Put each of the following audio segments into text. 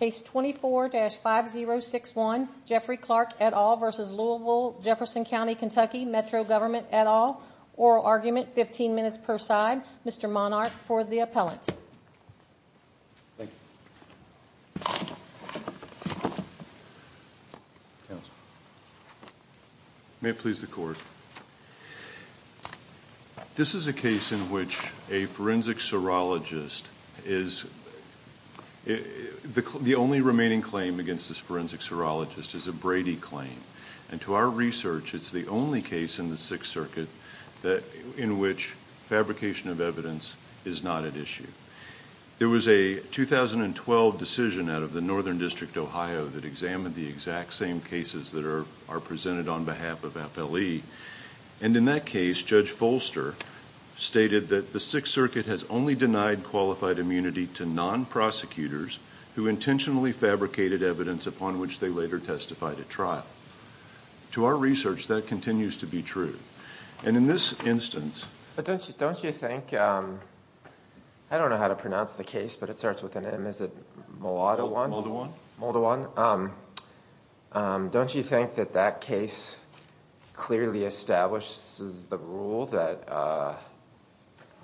Case 24-5061 Jeffrey Clark et al. v. Louisville Jefferson County Kentucky Metro Government et al. Oral argument 15 minutes per side. Mr. Monarch for the appellate. May it please the court. This is a case in which a forensic serologist is the only remaining claim against this forensic serologist is a Brady claim and to our research it's the only case in the Sixth Circuit that in which fabrication of evidence is not at issue. There was a 2012 decision out of the Northern District Ohio that examined the exact same cases that are presented on behalf of FLE and in that case Judge Folster stated that the Sixth Circuit has only denied qualified immunity to non-prosecutors who intentionally fabricated evidence upon which they later testified at trial. To our research that continues to be true and in this instance. But don't you don't you think I don't know how to pronounce the case but it starts with an M. Is it Moldawan? Moldawan. Don't you think that that case clearly establishes the rule that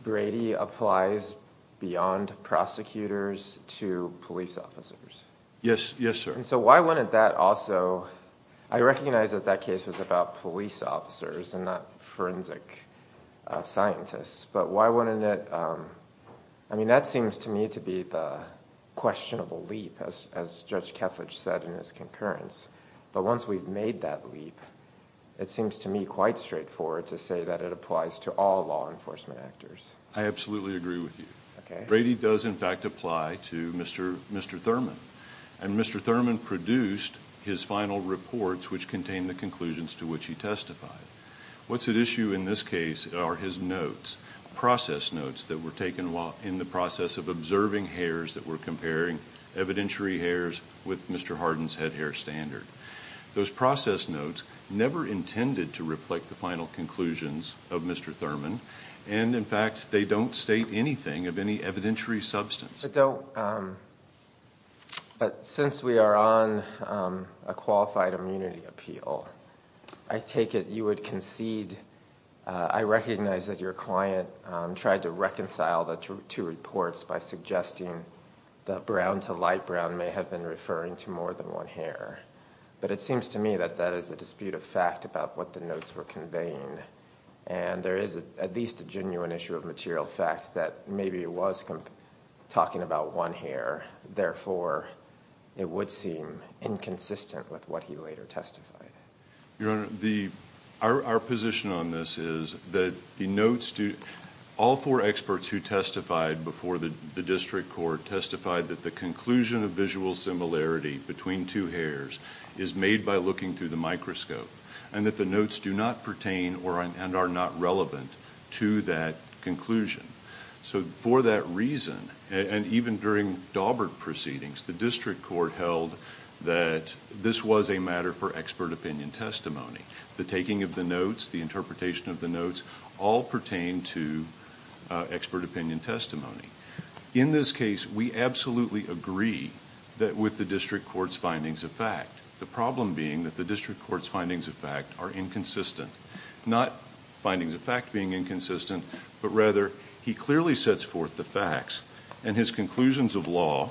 Brady applies beyond prosecutors to police officers? Yes, yes sir. So why wouldn't that also I recognize that that case was about police officers and not forensic scientists but why wouldn't it I mean that seems to me to be the questionable leap as Judge Kethledge said in his concurrence but once we've made that leap it seems to me quite straightforward to say that it applies to all law enforcement actors. I absolutely agree with you. Okay. Brady does in fact apply to Mr. Thurman and Mr. Thurman produced his final reports which contain the conclusions to which he testified. What's at issue in this case are his notes, process notes that were taken while in the process of observing hairs that were comparing evidentiary hairs with Mr. Harden's head standard. Those process notes never intended to reflect the final conclusions of Mr. Thurman and in fact they don't state anything of any evidentiary substance. But since we are on a qualified immunity appeal I take it you would concede I recognize that your client tried to reconcile the two reports by suggesting that brown to light brown may have been referring to more than one hair but it seems to me that that is a dispute of fact about what the notes were conveying and there is at least a genuine issue of material fact that maybe it was talking about one hair therefore it would seem inconsistent with what he later testified. Your Honor, our position on this is that the notes to all four experts who testified before the District Court testified that the conclusion of visual similarity between two hairs is made by looking through the microscope and that the notes do not pertain or and are not relevant to that conclusion. So for that reason and even during Daubert proceedings the District Court held that this was a matter for expert opinion testimony. The taking of the notes, the interpretation of the notes all pertain to expert opinion testimony. In this case we absolutely agree that with the District Court's findings of fact the problem being that the District Court's findings of fact are inconsistent. Not findings of fact being inconsistent but rather he clearly sets forth the facts and his conclusions of law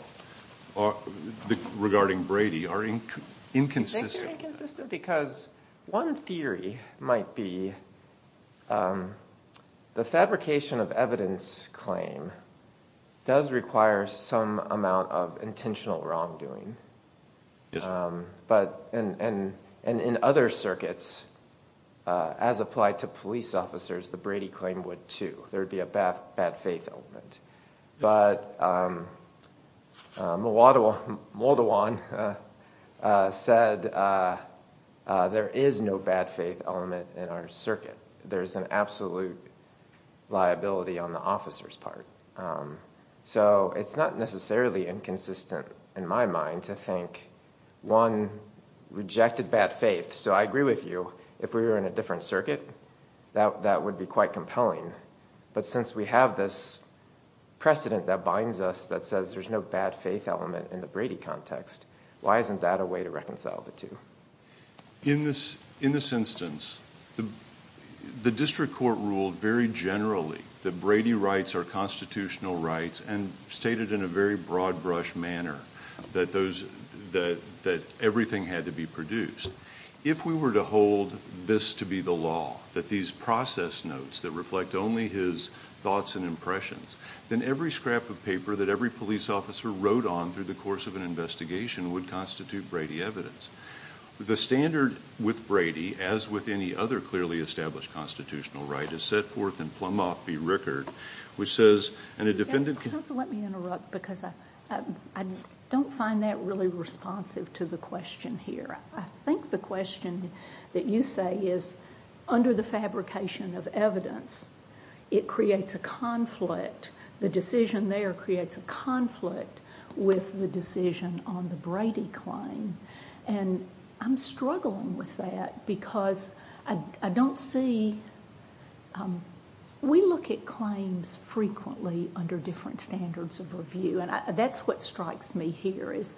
regarding Brady are inconsistent. Because one theory might be the fabrication of evidence claim does require some amount of intentional wrongdoing but and in other circuits as applied to police officers the Brady claim would too. There said there is no bad faith element in our circuit. There's an absolute liability on the officers part. So it's not necessarily inconsistent in my mind to think one rejected bad faith so I agree with you if we were in a different circuit that that would be quite compelling but since we have this precedent that binds us that says there's no bad faith element in the why isn't that a way to reconcile the two? In this instance the District Court ruled very generally that Brady rights are constitutional rights and stated in a very broad-brush manner that everything had to be produced. If we were to hold this to be the law that these process notes that reflect only his thoughts and impressions then every scrap of paper that every police officer wrote on through the course of an investigation would constitute Brady evidence. The standard with Brady as with any other clearly established constitutional right is set forth in Plumoff v. Rickard which says and a defendant... Let me interrupt because I don't find that really responsive to the question here. I think the question that you say is under the fabrication of evidence it creates a conflict. The decision there creates a conflict with the decision on the Brady claim and I'm struggling with that because I don't see... We look at claims frequently under different standards of review and that's what strikes me here is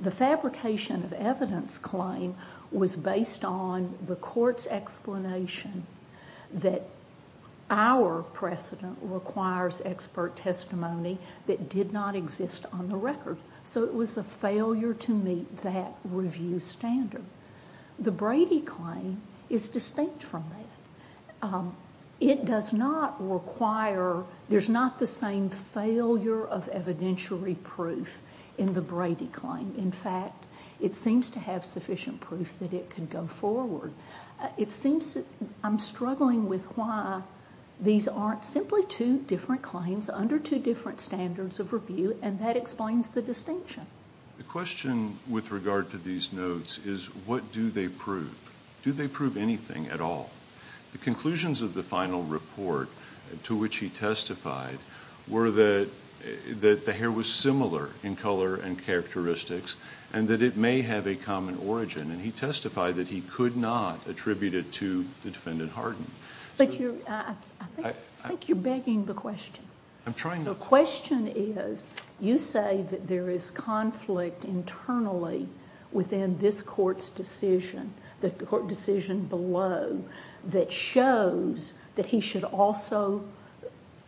the fabrication of evidence claim was based on the court's explanation that our precedent requires expert testimony that did not exist on the record so it was a failure to meet that review standard. The Brady claim is distinct from that. It does not require... there's not the same failure of evidentiary proof in the Brady claim. In fact it seems to have sufficient proof that it can go forward. It seems I'm struggling with why these aren't simply two different claims under two different standards of review and that explains the distinction. The question with regard to these notes is what do they prove? Do they prove anything at all? The conclusions of the final report to which he testified were that that the hair was similar in color and characteristics and that it may have a common origin and he testified that he could not attribute it to the defendant Hardin. But I think you're begging the question. I'm trying not to. The question is you say that there is conflict internally within this court's decision, the court decision below, that shows that he should also...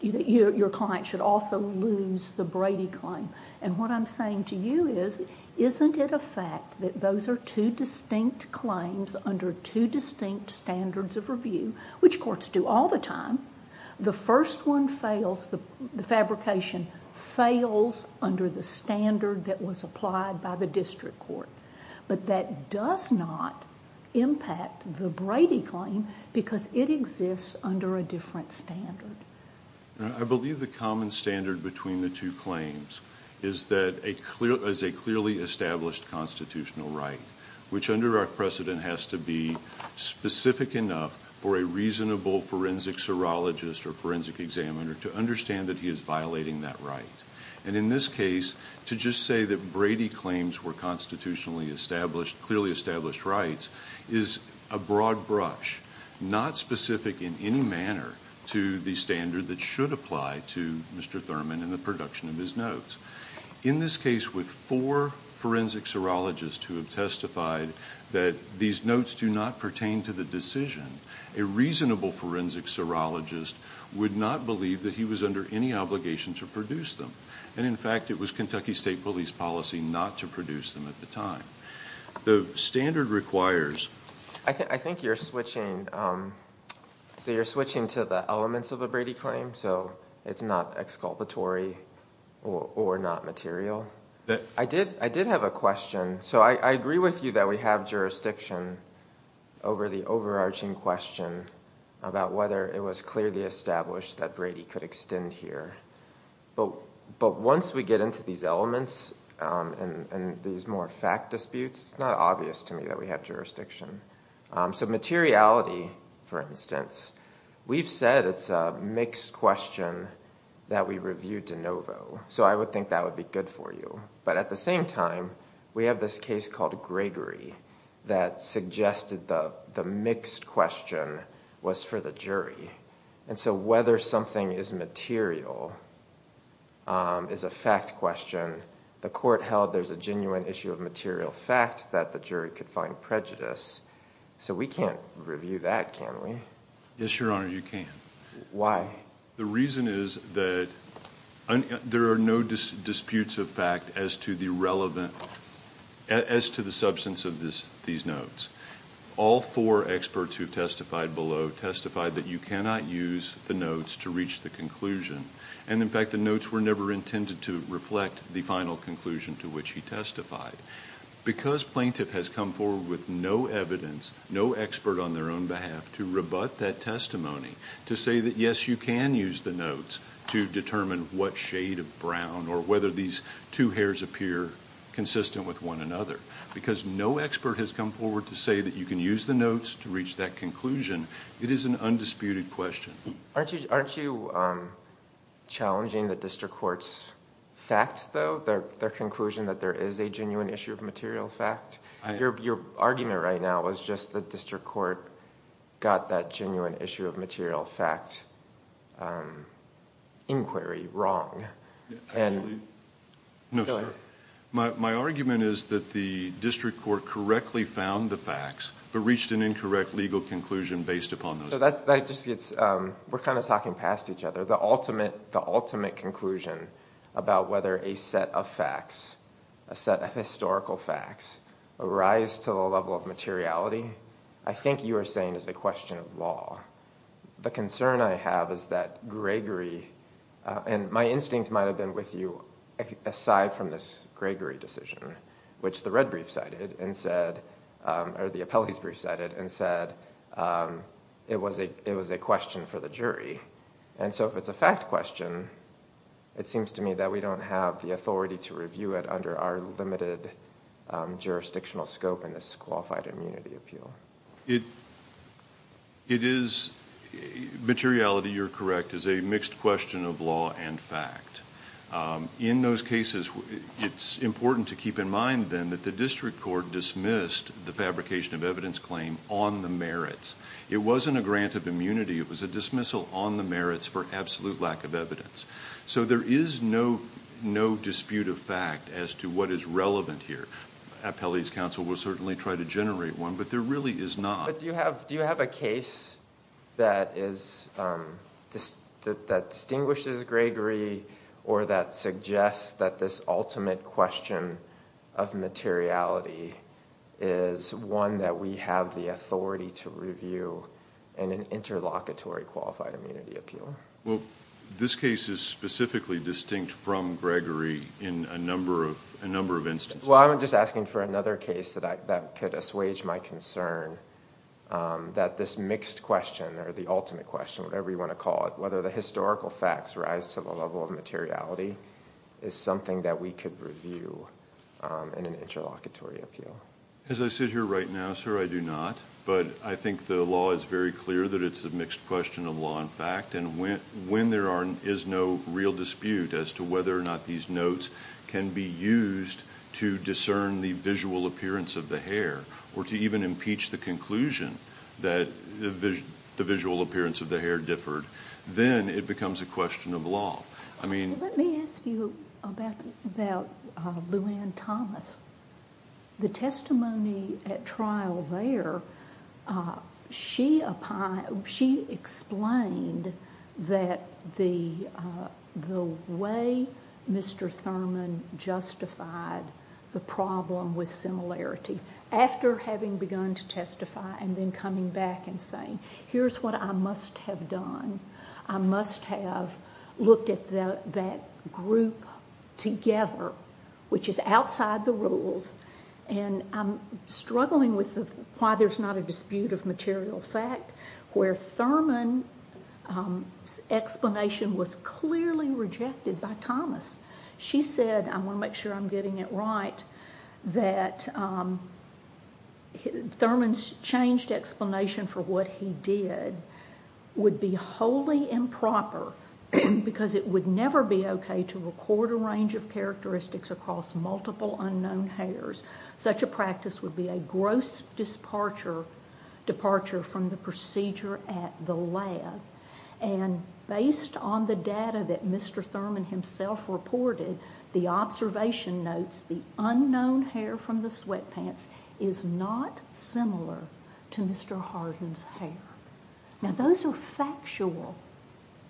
your client should also lose the Brady claim and what I'm saying to you is isn't it a fact that those are two distinct claims under two distinct standards of review, which courts do all the time, the first one fails, the fabrication fails under the standard that was applied by the district court. But that does not impact the Brady claim because it exists under a different standard. I believe the common standard between the two claims is that a clearly established constitutional right, which under our precedent has to be specific enough for a reasonable forensic serologist or forensic examiner to understand that he is violating that right. And in this case to just say that Brady claims were constitutionally established, clearly established rights is a broad brush, not specific in any manner to the standard that should apply to Mr. Thurman in the production of his notes. In this case with four forensic serologists who have testified that these notes do not pertain to the decision, a reasonable forensic serologist would not believe that he was under any obligation to produce them. And in fact it was Kentucky State Police policy not to produce them at the time. The standard requires... I think you're switching to the elements of a Brady claim, so it's not exculpatory or not material. I did have a question. So I agree with you that we have jurisdiction over the overarching question about whether it was clearly established that Brady could extend here. But once we get into these elements and these more fact disputes, it's not obvious to me that we have jurisdiction. So materiality, for instance, we've said it's a mixed question that we reviewed de novo. So I would think that would be good for you. But at the same time, we have this case called Gregory that suggested the mixed question was for the jury. And so whether something is material is a fact question. The court held there's a genuine issue of material fact that the jury could find prejudice. So we can't review that, can we? Yes, Your Honor, you can. Why? The reason is that there are no disputes of fact as to the relevant... as to the substance of these notes. All four experts who have testified below testified that you cannot use the notes to reach the conclusion. And in fact the notes were never intended to reflect the final conclusion to which he testified. Because plaintiff has come forward with no evidence, no expert on their own behalf to rebut that testimony, to say that yes you can use the notes to determine what shade of brown or whether these two hairs appear consistent with one another. Because no expert has come forward to say that you can use the notes to reach that conclusion. It is an undisputed question. Aren't you challenging the district court's facts though? Their conclusion that there is a genuine issue of material fact? Your argument right now was just the district court got that genuine issue of material fact inquiry wrong. No, sir. My argument is that the district court correctly found the facts but reached an incorrect legal conclusion based upon those facts. So that just gets... we're kind of talking past each other. The ultimate... the ultimate conclusion about whether a set of facts, a set of historical facts, arise to a level of materiality, I think you are saying is a question of law. The concern I have is that Gregory... and my instincts might have been with you aside from this Gregory decision, which the red brief cited and said... or the appellee's brief cited and said it was a question for the jury. And so if it's a fact question, it seems to me that we don't have the authority to review it under our limited jurisdictional scope in this qualified immunity appeal. It is... materiality, you're correct, is a mixed question of law and fact. In those cases, it's important to keep in mind then that the district court dismissed the fabrication of evidence claim on the merits. It wasn't a grant of immunity. It was a dismissal on the merits for absolute lack of evidence. So there is no dispute of fact as to what is relevant here. Appellee's counsel will certainly try to generate one, but there really is not. But do you have a case that is... that distinguishes Gregory or that suggests that this ultimate question of materiality is one that we have the authority to review in an interlocutory qualified immunity appeal? Well, this case is specifically distinct from Gregory in a number of... a number of instances. Well, I'm just asking for another case that I... that could assuage my concern that this mixed question or the ultimate question, whatever you want to call it, whether the historical facts rise to the level of materiality, is something that we could review in an interlocutory appeal. As I sit here right now, sir, I do not. But I think the law is very clear that it's a mixed question of law and fact. And when there is no real dispute as to whether or not these notes can be used to discern the visual appearance of the hair or to even impeach the conclusion that the visual appearance of the hair differed, then it becomes a question of law. I mean... Let me ask you about Luann Thomas. The testimony at trial there, she applied... she explained that the... the way Mr. Thurman justified the problem with similarity, after having begun to testify and then coming back and saying, here's what I must have done. I must have looked at that group together, which is outside the rules, and I'm struggling with why there's not a dispute of material fact where Thurman's explanation was clearly rejected by Thomas. She said, I want to make sure I'm getting it right, that Thurman's changed explanation for what he did would be wholly improper because it would never be okay to record a range of characteristics across multiple unknown hairs. Such a practice would be a gross departure from the procedure at the lab. And based on the data that Mr. Thurman himself reported, the observation notes, the unknown hair from the sweatpants is not similar to Mr. Harden's hair. Now those are factual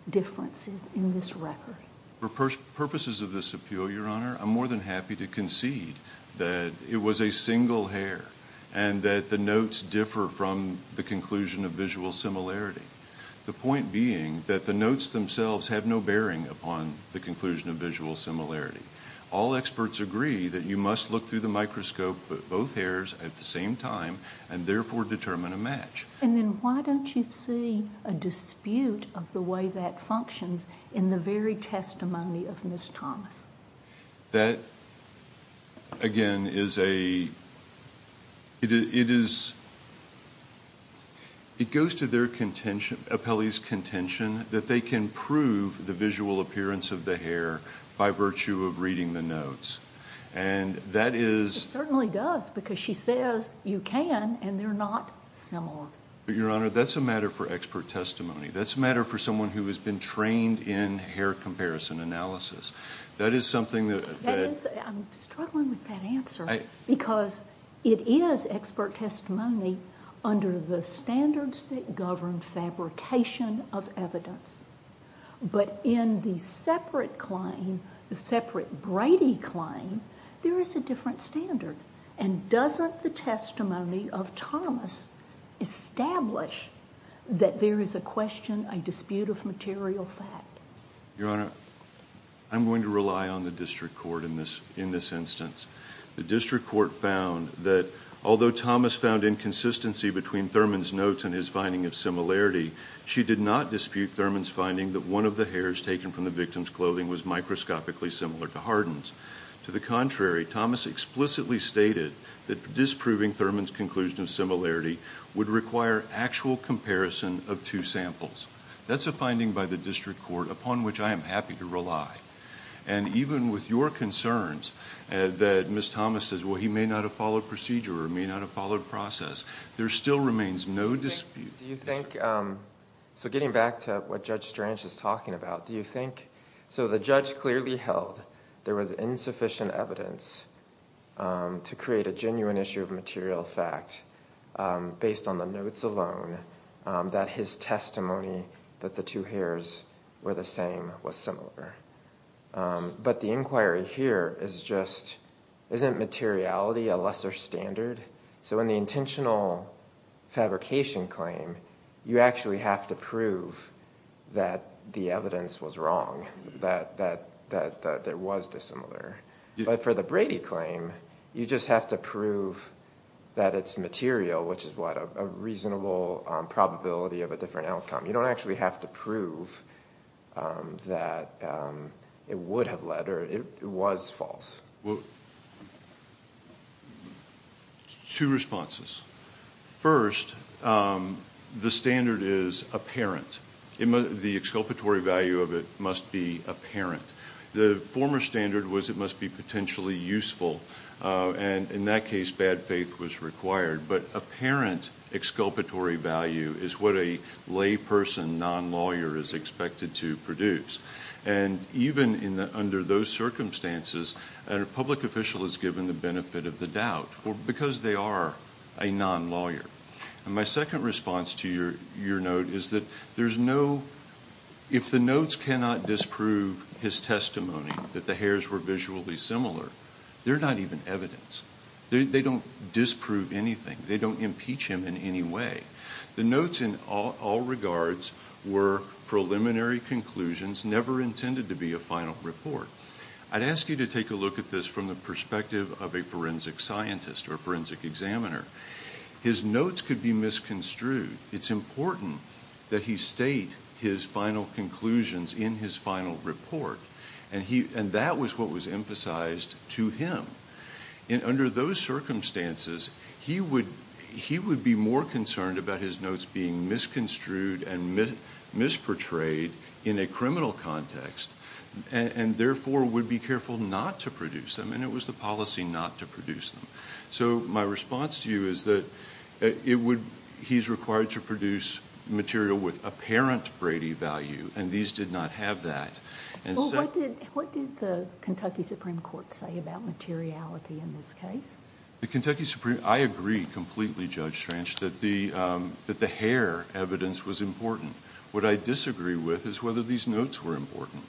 differences in this record. For purposes of this appeal, Your Honor, I'm more than happy to concede that it was a single hair and that the notes differ from the conclusion of visual similarity. The point being that the notes themselves have no bearing upon the conclusion of visual similarity. All experts agree that you must look through the microscope at both hairs at the same time and therefore determine a match. And then why don't you see a dispute of the way that functions in the very testimony of Ms. Thomas? That again is a, it is, it goes to their contention, Apelli's contention, that they can prove the visual appearance of the hair by virtue of reading the notes. And that is... It certainly does because she says you can and they're not similar. Your Honor, that's a matter for expert testimony. That's a matter for someone who has been trained in hair comparison analysis. That is something that... I'm struggling with that answer because it is expert testimony under the standards that govern fabrication of evidence. But in the separate claim, the separate Brady claim, there is a different standard. And doesn't the testimony of Thomas establish that there is a question, a dispute of material fact? Your Honor, I'm going to rely on the district court in this, in this instance. The district court found that although Thomas found inconsistency between Thurman's notes and his finding of similarity, she did not dispute Thurman's finding that one of the hairs taken from the victim's clothing was microscopically similar to Hardin's. To the contrary, Thomas explicitly stated that disproving Thurman's conclusion of similarity would require actual comparison of two samples. That's a finding by the district court upon which I am happy to rely. And even with your concerns that Ms. Thomas says, well, he may not have followed procedure or may not have followed process, there still remains no dispute. Do you think... so getting back to what Judge Strange is talking about, do you think... so the judge clearly held there was insufficient evidence to create a genuine issue of material fact based on the notes alone that his testimony that the two hairs were the same was similar. But the inquiry here is just, isn't materiality a lesser standard? So in the intentional fabrication claim, you actually have to prove that the evidence was wrong, that there was dissimilar. But for the Brady claim, you just have to prove that it's material, which is what, a reasonable probability of a different outcome. You don't actually have to prove that it would have led or it was false. Well, two responses. First, the standard is apparent. The exculpatory value of it must be apparent. The former standard was it must be potentially useful. And in that case, bad faith was required. But apparent exculpatory value is what a lay person, non-lawyer, is expected to produce. And even under those circumstances, a public official is given the benefit of the doubt because they are a non-lawyer. And my second response to your note is that there's no... if the notes cannot disprove his testimony that the hairs were visually similar, they're not even evidence. They don't disprove anything. They don't impeach him in any way. The notes, in all regards, were preliminary conclusions, never intended to be a final report. I'd ask you to take a look at this from the perspective of a forensic scientist or forensic examiner. His notes could be misconstrued. It's important that he state his final conclusions in his final report. And that was what was emphasized to him. And under those circumstances, he would be more concerned about his notes being misconstrued and misportrayed in a criminal context, and therefore would be careful not to produce them. And it was the policy not to produce them. So my response to you is that it would... he's required to produce material with apparent Brady value, and these did not have that. Well, what did the Kentucky Supreme Court say about materiality in this case? The Kentucky Supreme... I agree completely, Judge Stranch, that the hair evidence was important. What I disagree with is whether these notes were important.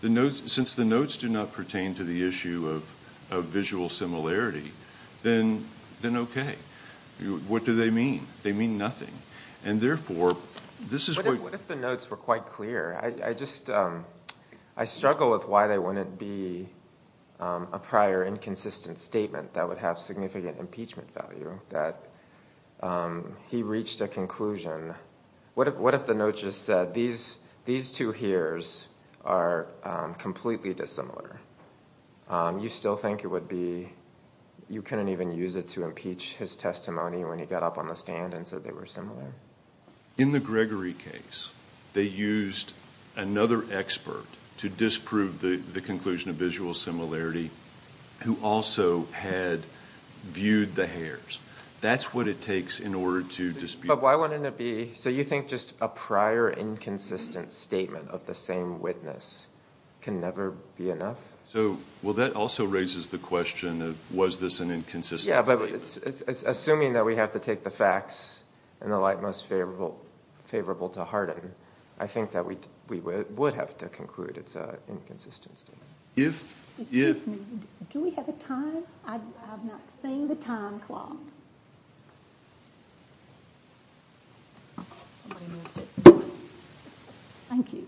The notes... since the notes do not pertain to the issue of visual similarity, then okay. What do they mean? They mean nothing. And therefore, this is what... I struggle with why they wouldn't be a prior inconsistent statement that would have significant impeachment value, that he reached a conclusion. What if the note just said, these two hairs are completely dissimilar? You still think it would be... you couldn't even use it to impeach his testimony when he got up on the stand and said they were similar? In the Gregory case, they used another expert to disprove the conclusion of visual similarity who also had viewed the hairs. That's what it takes in order to dispute... But why wouldn't it be... so you think just a prior inconsistent statement of the same witness can never be enough? So... well, that also raises the question of was this an inconsistent statement? Assuming that we have to take the facts in the light most favorable to harden, I think that we would have to conclude it's an inconsistent statement. If... Do we have a time? I've not seen the time clock. Thank you.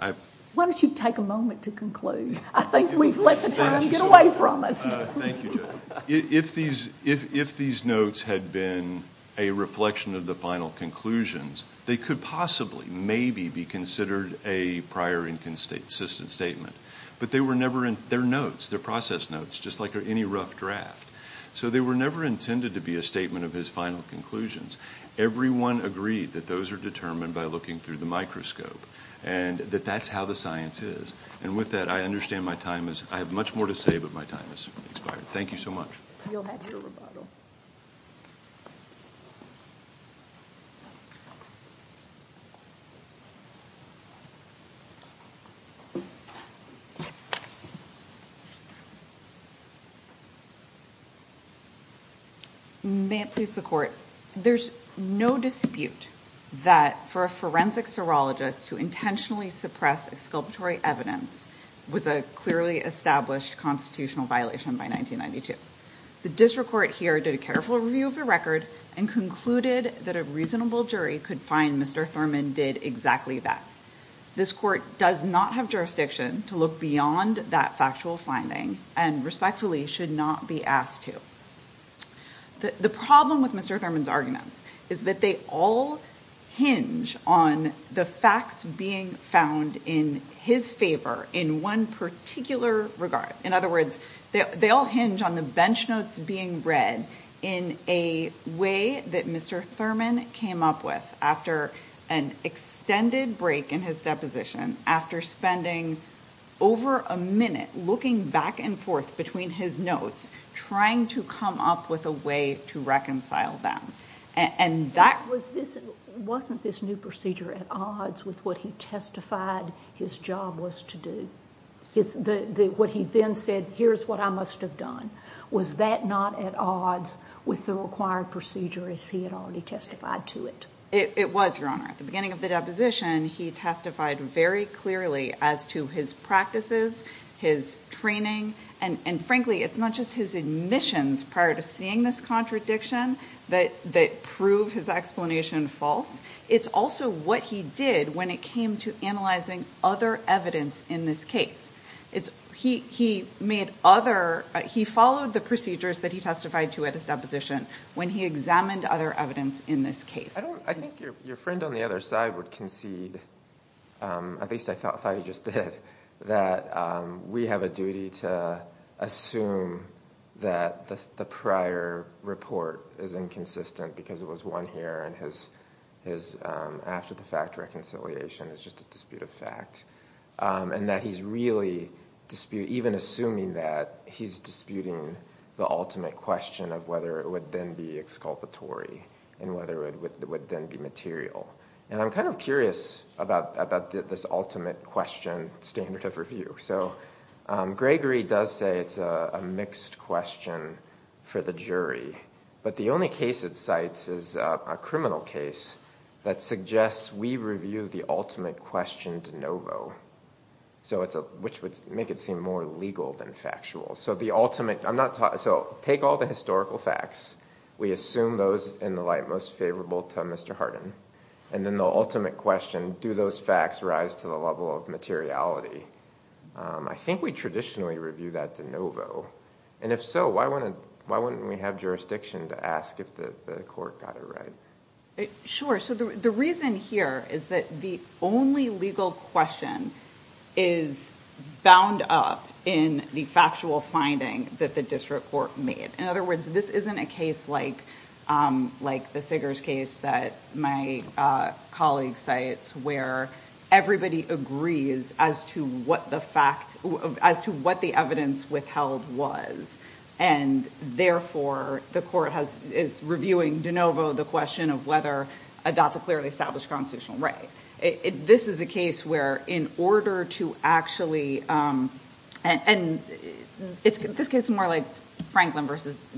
I... Why don't you take a moment to conclude? I think we've let the time get away from us. Thank you, Joe. If these notes had been a reflection of the final conclusions, they could possibly, maybe, be considered a prior inconsistent statement. But they were never... they're notes. They're process notes, just like any rough draft. So they were never intended to be a statement of his final conclusions. Everyone agreed that those are determined by looking through the microscope and that that's how the science is. And with that, I understand my time is... Thank you so much. You'll have your rebuttal. May it please the Court, there's no dispute that for a forensic serologist to intentionally suppress exculpatory evidence was a clearly established constitutional violation by 1992. The district court here did a careful review of the record and concluded that a reasonable jury could find Mr. Thurman did exactly that. This court does not have jurisdiction to look beyond that factual finding and respectfully should not be asked to. The problem with Mr. Thurman's arguments is that they all hinge on the facts being found in his favor in one particular regard. In other words, they all hinge on the bench notes being read in a way that Mr. Thurman came up with after an extended break in his deposition, after spending over a minute looking back and forth between his notes, trying to come up with a way to reconcile them. And that... his job was to do. What he then said, here's what I must have done. Was that not at odds with the required procedure as he had already testified to it? It was, Your Honor. At the beginning of the deposition, he testified very clearly as to his practices, his training, and frankly, it's not just his admissions prior to seeing this contradiction that prove his explanation false. It's also what he did when it came to analyzing other evidence in this case. He made other... he followed the procedures that he testified to at his deposition when he examined other evidence in this case. I think your friend on the other side would concede, at least I thought he just did, that we have a duty to assume that the prior report is inconsistent because it was won here and his after-the-fact reconciliation is just a dispute of fact. And that he's really disputing, even assuming that, he's disputing the ultimate question of whether it would then be exculpatory and whether it would then be material. And I'm kind of curious about this ultimate question standard of review. So Gregory does say it's a mixed question for the criminal case that suggests we review the ultimate question de novo, which would make it seem more legal than factual. So take all the historical facts. We assume those in the light most favorable to Mr. Hardin. And then the ultimate question, do those facts rise to the level of materiality? I think we traditionally review that de novo. And if so, why wouldn't we have jurisdiction to ask if the court got it right? Sure. So the reason here is that the only legal question is bound up in the factual finding that the district court made. In other words, this isn't a case like the Siggers case that my colleague cites where everybody agrees as to what the evidence withheld was. And therefore, the court is reviewing de novo the question of whether that's a clearly established constitutional right. This is a case where in order to actually, and this case is more like Franklin versus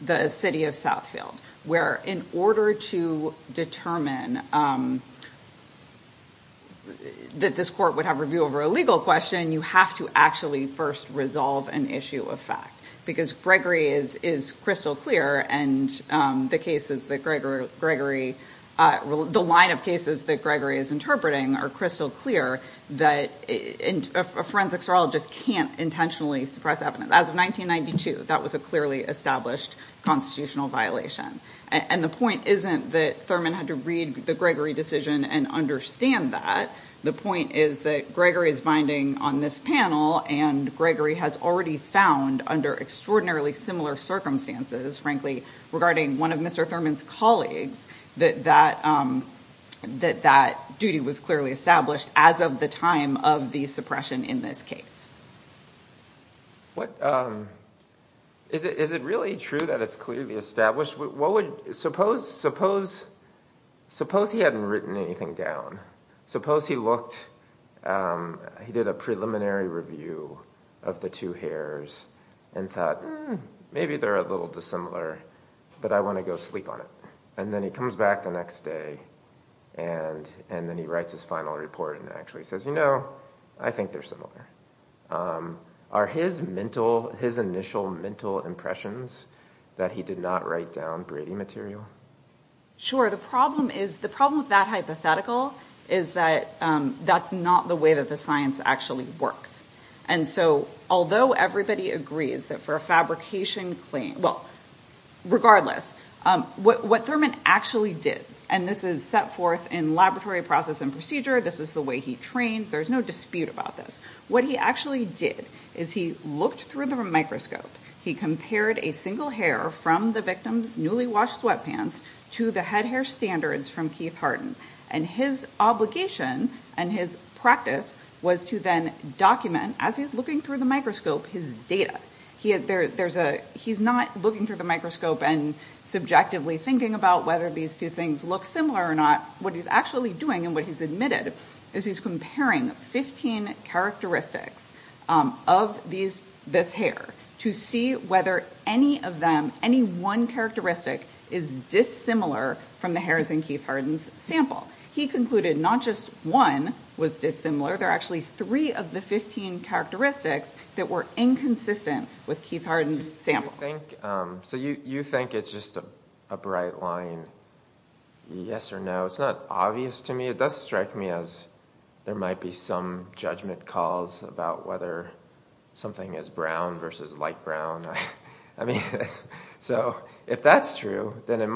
the city of Southfield, where in order to determine that this court would have to review over a legal question, you have to actually first resolve an issue of fact. Because Gregory is crystal clear, and the cases that Gregory, the line of cases that Gregory is interpreting are crystal clear that a forensic serologist can't intentionally suppress evidence. As of 1992, that was a clearly established constitutional violation. And the point isn't that Thurman had to found under extraordinarily similar circumstances, frankly, regarding one of Mr. Thurman's colleagues, that that duty was clearly established as of the time of the suppression in this case. Is it really true that it's clearly established? Suppose he hadn't written anything down. Suppose he looked, he did a preliminary review of the two hairs and thought, maybe they're a little dissimilar, but I want to go sleep on it. And then he comes back the next day, and then he writes his final report and actually says, you know, I think they're similar. Are his mental, his initial mental impressions that he did not write down Brady material? Sure. The problem is, the problem with that hypothetical is that that's not the way that the science actually works. And so although everybody agrees that for a fabrication claim, well, regardless, what Thurman actually did, and this is set forth in laboratory process and procedure, this is the way he trained, there's no dispute about this. What he actually did is he looked through the microscope, he compared the characteristics of this hair to the head hair standards from Keith Harden, and his obligation and his practice was to then document, as he's looking through the microscope, his data. He is there. There's a he's not looking through the microscope and subjectively thinking about whether these two things look similar or not. What he's actually doing and what he's admitted is he's looking through the hair to see whether any of them, any one characteristic is dissimilar from the hairs in Keith Harden's sample. He concluded not just one was dissimilar, there are actually three of the 15 characteristics that were inconsistent with Keith Harden's sample. So you think it's just a bright line, yes or no? It's not obvious to me. It does strike me as there might be some judgment calls about whether something as brown versus light brown. I mean, so if that's true, then it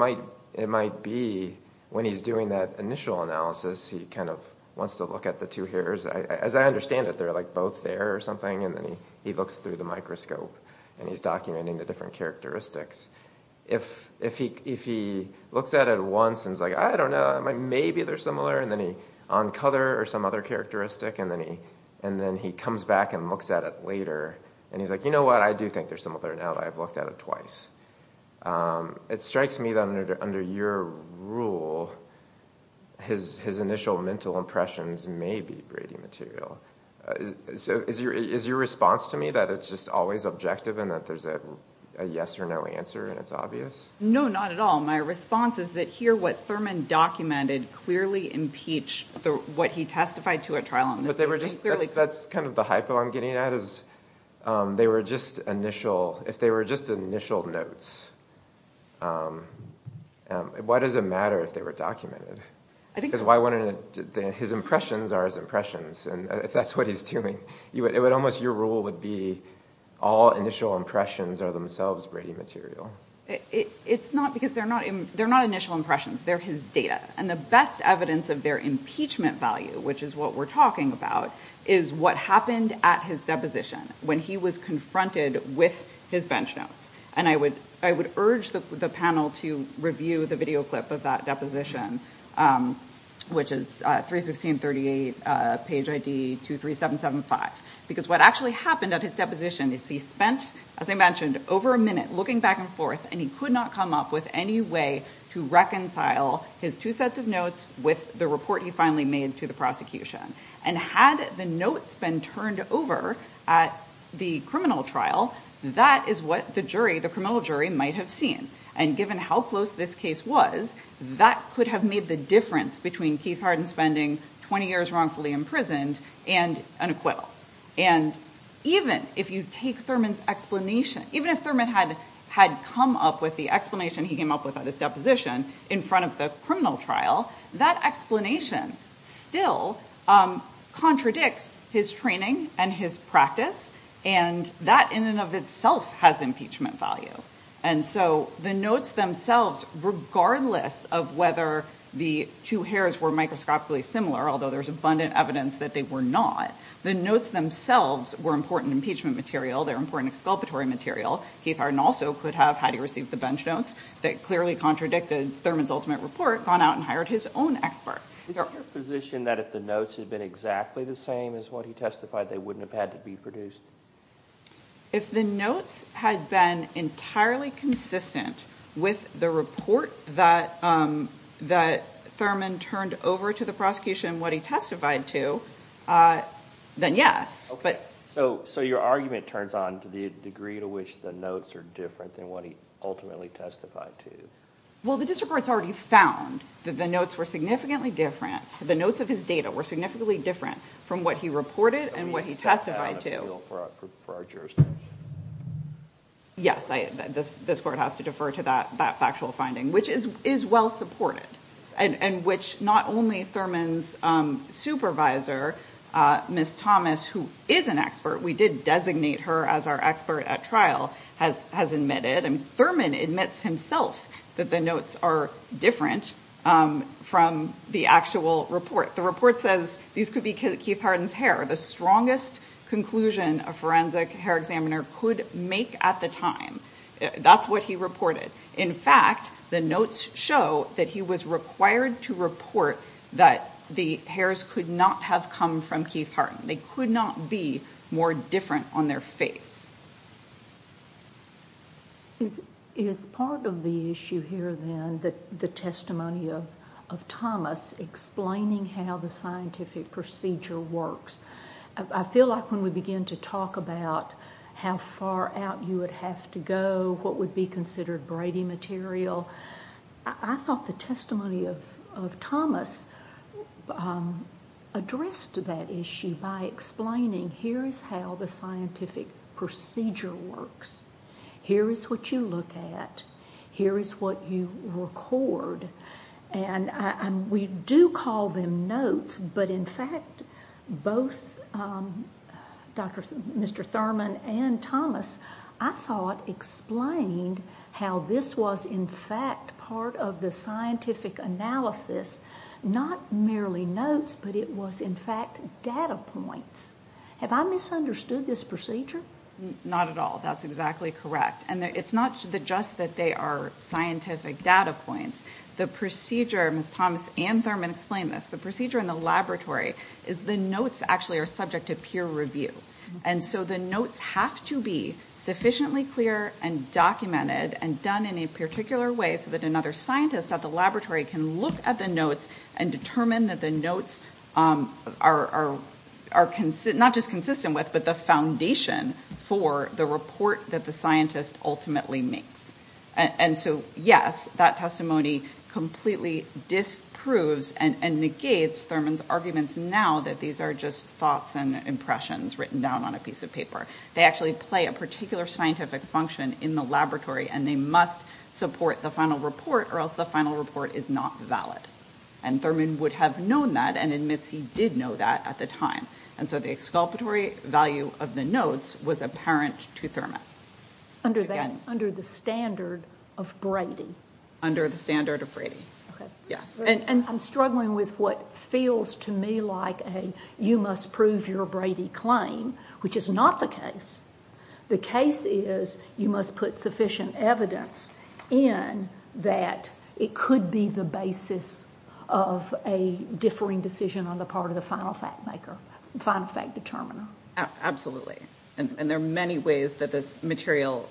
might be when he's doing that initial analysis, he kind of wants to look at the two hairs. As I understand it, they're like both there or something, and then he looks through the microscope and he's documenting the different characteristics. If he looks at it once and is like, I don't know, maybe they're similar, and then he on color or some other characteristic, and then he comes back and looks at it later, and he's like, you know what, I do think they're similar, now that I've looked at it twice. It strikes me that under your rule, his initial mental impressions may be Brady material. So is your response to me that it's just always objective and that there's a yes or no answer and it's obvious? No, not at all. My response is that here what Thurman documented clearly impeached what he testified to at trial. That's kind of the hypo I'm getting at. If they were just initial notes, why does it matter if they were documented? His impressions are his impressions, and if that's what he's doing, almost your rule would be all initial impressions are themselves Brady material. It's not because they're not initial impressions, they're his data, and the best evidence of their impeachment value, which is what we're talking about, is what happened at his deposition when he was confronted with his bench notes, and I would urge the panel to review the video clip of that deposition, which is 316.38, page ID 23775, because what actually happened at his deposition is he spent, as I mentioned, over a minute looking back and forth, and he could not come up with any way to reconcile his two sets of notes with the report he finally made to the prosecution, and had the notes been turned over at the criminal trial, that is what the criminal jury might have seen, and given how close this case was, that could have made the difference between Keith Harden spending 20 years wrongfully imprisoned and an acquittal, and even if you take Thurman's explanation, even if Thurman had come up with the explanation he came up with at his deposition in front of the criminal trial, that explanation still contradicts his training and his practice, and that in and of itself has impeachment value, and so the notes themselves, regardless of whether the two hairs were microscopically similar, although there's abundant evidence that they were not, the notes themselves were important impeachment material, they're important exculpatory material. Keith Harden also could have, had he received the bench notes, that clearly contradicted Thurman's ultimate report, gone out and hired his own expert. Is it your position that if the notes had been exactly the same as what he testified, they wouldn't have had to be produced? If the notes had been entirely consistent with the report that Thurman turned over to the prosecution and what he testified to, then yes. Okay, so your argument turns on to the degree to which the notes are different than what he ultimately testified to. Well, the district court's already found that the notes were significantly different, the notes of his data were significantly different from what he reported and what he testified to. So you set that out of the field for our jurisdiction? Yes, this court has to defer to that factual finding, which is well supported, and which not only Thurman's supervisor, Ms. Thomas, who is an expert, we did designate her as our expert at trial, has admitted, and Thurman admits himself that the notes are different from the actual report. The report says these could be Keith Harden's hair, the strongest conclusion a forensic hair examiner could make at the time. That's what he reported. In fact, the notes show that he was required to report that the hairs could not have come from Keith Harden. They could not be more different on their face. Is part of the issue here, then, the testimony of Thomas explaining how the scientific procedure works? I feel like when we begin to talk about how far out you would have to go, what would be considered Brady material, I thought the testimony of Thomas addressed that issue by explaining, here is how the scientific procedure works. Here is what you look at. Here is what you record. And we do call them notes, but, in fact, both Mr. Thurman and Thomas, I thought explained how this was, in fact, part of the scientific analysis, not merely notes, but it was, in fact, data points. Have I misunderstood this procedure? Not at all. That's exactly correct. And it's not just that they are scientific data points. The procedure, Ms. Thomas and Thurman explained this, the procedure in the laboratory is the notes actually are subject to peer review. And so the notes have to be sufficiently clear and documented and done in a particular way so that another scientist at the laboratory can look at the notes and determine that the notes are not just consistent with, but the foundation for the report that the scientist ultimately makes. And so, yes, that testimony completely disproves and negates Thurman's arguments now that these are just thoughts and impressions written down on a piece of paper. They actually play a particular scientific function in the laboratory, and they must support the final report or else the final report is not valid. And Thurman would have known that and admits he did know that at the time. And so the exculpatory value of the notes was apparent to Thurman. Under the standard of Brady. Under the standard of Brady, yes. I'm struggling with what feels to me like a you must prove your Brady claim, which is not the case. The case is you must put sufficient evidence in that it could be the basis of a differing decision on the part of the final factmaker, final fact determiner. Absolutely. And there are many ways that this material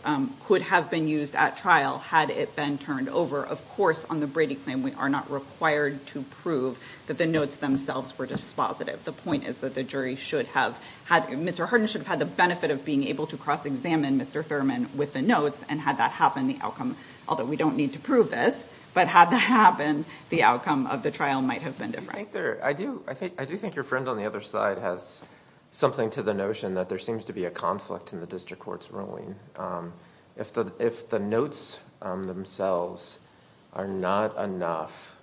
could have been used at trial had it been turned over. Of course, on the Brady claim, we are not required to prove that the notes themselves were dispositive. The point is that the jury should have had Mr. Harden should have had the benefit of being able to cross-examine Mr. Thurman with the notes, and had that happened, the outcome, although we don't need to prove this, but had that happened, the outcome of the trial might have been different. I do think your friend on the other side has something to the notion that there seems to be a conflict in the district court's ruling. If the notes themselves are not enough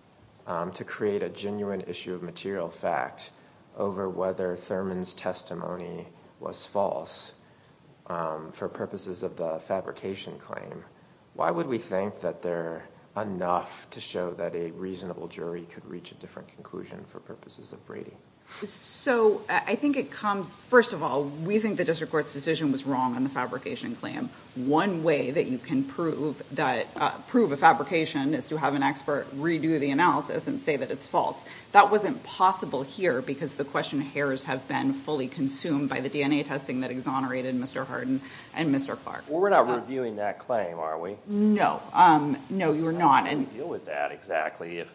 to create a genuine issue of material fact over whether Thurman's testimony was false for purposes of the fabrication claim, why would we think that they're enough to show that a reasonable jury could reach a different conclusion for purposes of Brady? So I think it comes, first of all, we think the district court's decision was wrong on the fabrication claim. One way that you can prove a fabrication is to have an expert redo the analysis and say that it's false. That wasn't possible here because the question hairs have been fully consumed by the DNA testing that exonerated Mr. Harden and Mr. Clark. Well, we're not reviewing that claim, are we? No. No, you're not. How do we deal with that exactly if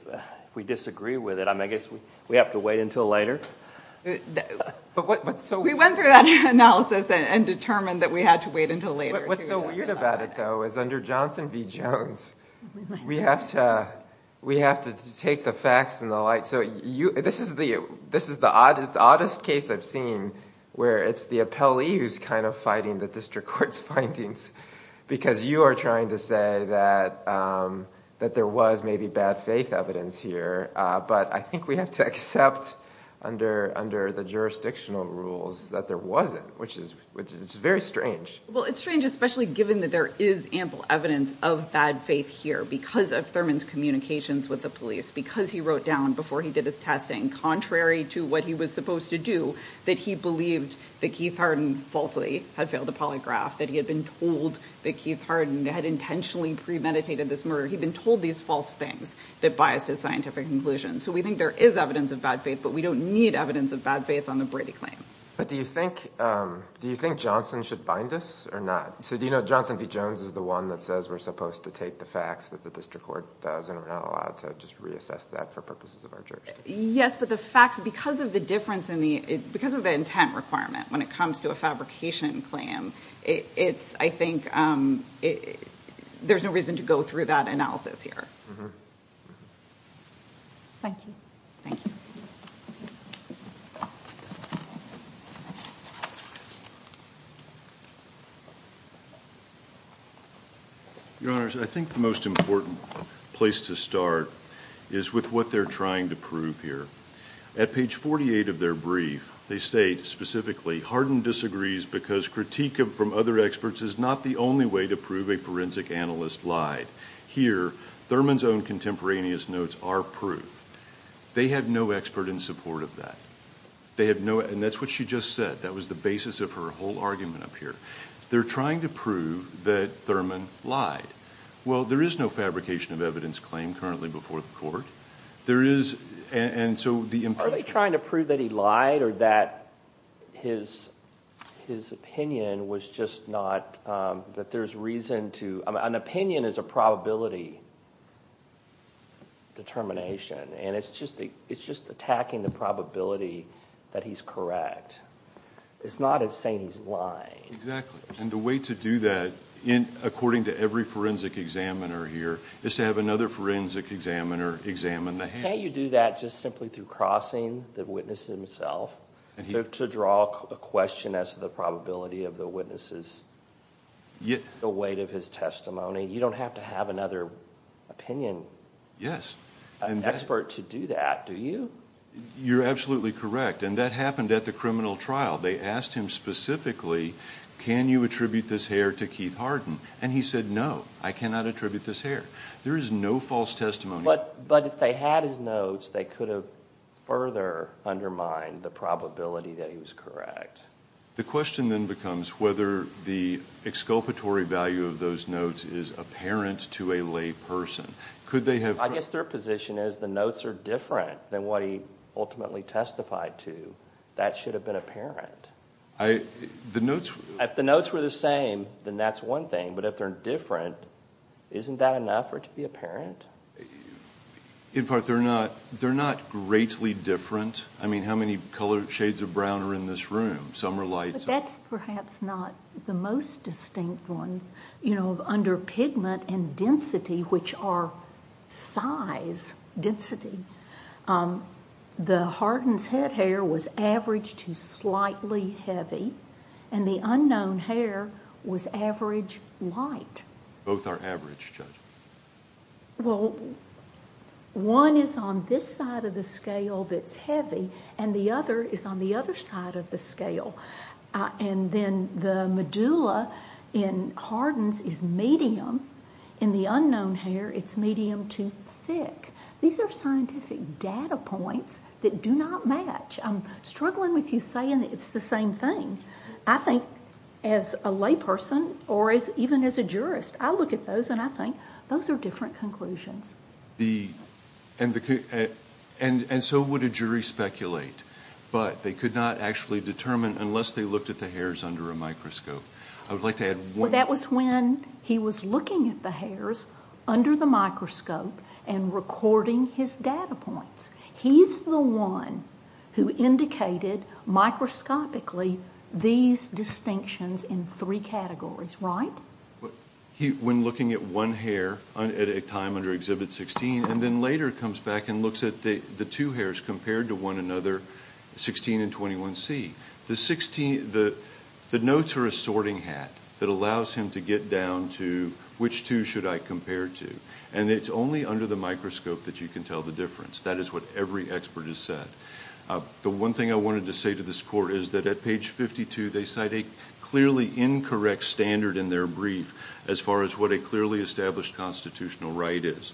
we disagree with it? I guess we have to wait until later? We went through that analysis and determined that we had to wait until later. What's so weird about it, though, is under Johnson v. Jones, we have to take the facts in the light. So this is the oddest case I've seen where it's the appellee who's kind of fighting the district court's findings because you are trying to say that there was maybe bad faith evidence here. But I think we have to accept under the jurisdictional rules that there wasn't, which is very strange. Well, it's strange, especially given that there is ample evidence of bad faith here because of Thurman's communications with the police, because he wrote down before he did his testing, contrary to what he was supposed to do, that he believed that Keith Harden falsely had failed the polygraph, that he had been told that Keith Harden had intentionally premeditated this murder. He'd been told these false things that bias his scientific conclusions. So we think there is evidence of bad faith, but we don't need evidence of bad faith on the Brady claim. But do you think Johnson should bind us or not? So do you know Johnson v. Jones is the one that says we're supposed to take the facts that the district court does, and we're not allowed to just reassess that for purposes of our jurisdiction? Yes, but the facts, because of the intent requirement when it comes to a fabrication claim, I think there's no reason to go through that analysis here. Thank you. Thank you. Your Honors, I think the most important place to start is with what they're trying to prove here. At page 48 of their brief, they state specifically, Harden disagrees because critique from other experts is not the only way to prove a forensic analyst lied. Here, Thurman's own contemporaneous notes are proof. They had no expert in support of that. And that's what she just said. That was the basis of her whole argument up here. They're trying to prove that Thurman lied. Well, there is no fabrication of evidence claim currently before the court. Are they trying to prove that he lied or that his opinion was just not... that there's reason to... An opinion is a probability determination, and it's just attacking the probability that he's correct. It's not saying he's lying. Exactly, and the way to do that, according to every forensic examiner here, is to have another forensic examiner examine the hair. Can't you do that just simply through crossing the witness himself to draw a question as to the probability of the witness's... the weight of his testimony? You don't have to have another opinion expert to do that, do you? You're absolutely correct, and that happened at the criminal trial. They asked him specifically, can you attribute this hair to Keith Harden? And he said, no, I cannot attribute this hair. There is no false testimony. But if they had his notes, they could have further undermined the probability that he was correct. The question then becomes whether the exculpatory value of those notes is apparent to a lay person. Could they have... I guess their position is the notes are different than what he ultimately testified to. That should have been apparent. The notes... If the notes were the same, then that's one thing. But if they're different, isn't that enough for it to be apparent? In fact, they're not greatly different. I mean, how many shades of brown are in this room? Some are light... But that's perhaps not the most distinct one. Under pigment and density, which are size, density, the Harden's head hair was averaged to slightly heavy, and the unknown hair was average light. Both are average, Judge. Well, one is on this side of the scale that's heavy, and the other is on the other side of the scale. And then the medulla in Harden's is medium. In the unknown hair, it's medium to thick. These are scientific data points that do not match. I'm struggling with you saying it's the same thing. I think as a layperson or even as a jurist, I look at those and I think those are different conclusions. And so would a jury speculate, but they could not actually determine unless they looked at the hairs under a microscope. I would like to add one... That was when he was looking at the hairs under the microscope and recording his data points. He's the one who indicated microscopically these distinctions in three categories, right? When looking at one hair at a time under Exhibit 16 and then later comes back and looks at the two hairs compared to one another, 16 and 21C. The notes are a sorting hat that allows him to get down to which two should I compare to. And it's only under the microscope that you can tell the difference. That is what every expert has said. The one thing I wanted to say to this court is that at page 52, they cite a clearly incorrect standard in their brief as far as what a clearly established constitutional right is.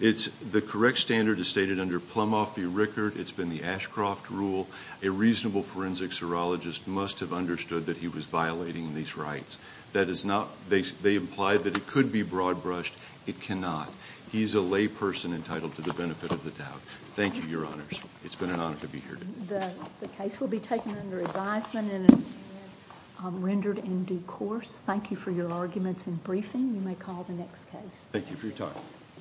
The correct standard is stated under Plumoff v. Rickert. It's been the Ashcroft rule. A reasonable forensic serologist must have understood that he was violating these rights. They implied that it could be broad-brushed. It cannot. He's a layperson entitled to the benefit of the doubt. Thank you, Your Honors. It's been an honor to be here today. The case will be taken under advisement and rendered in due course. Thank you for your arguments and briefing. You may call the next case. Thank you for your time.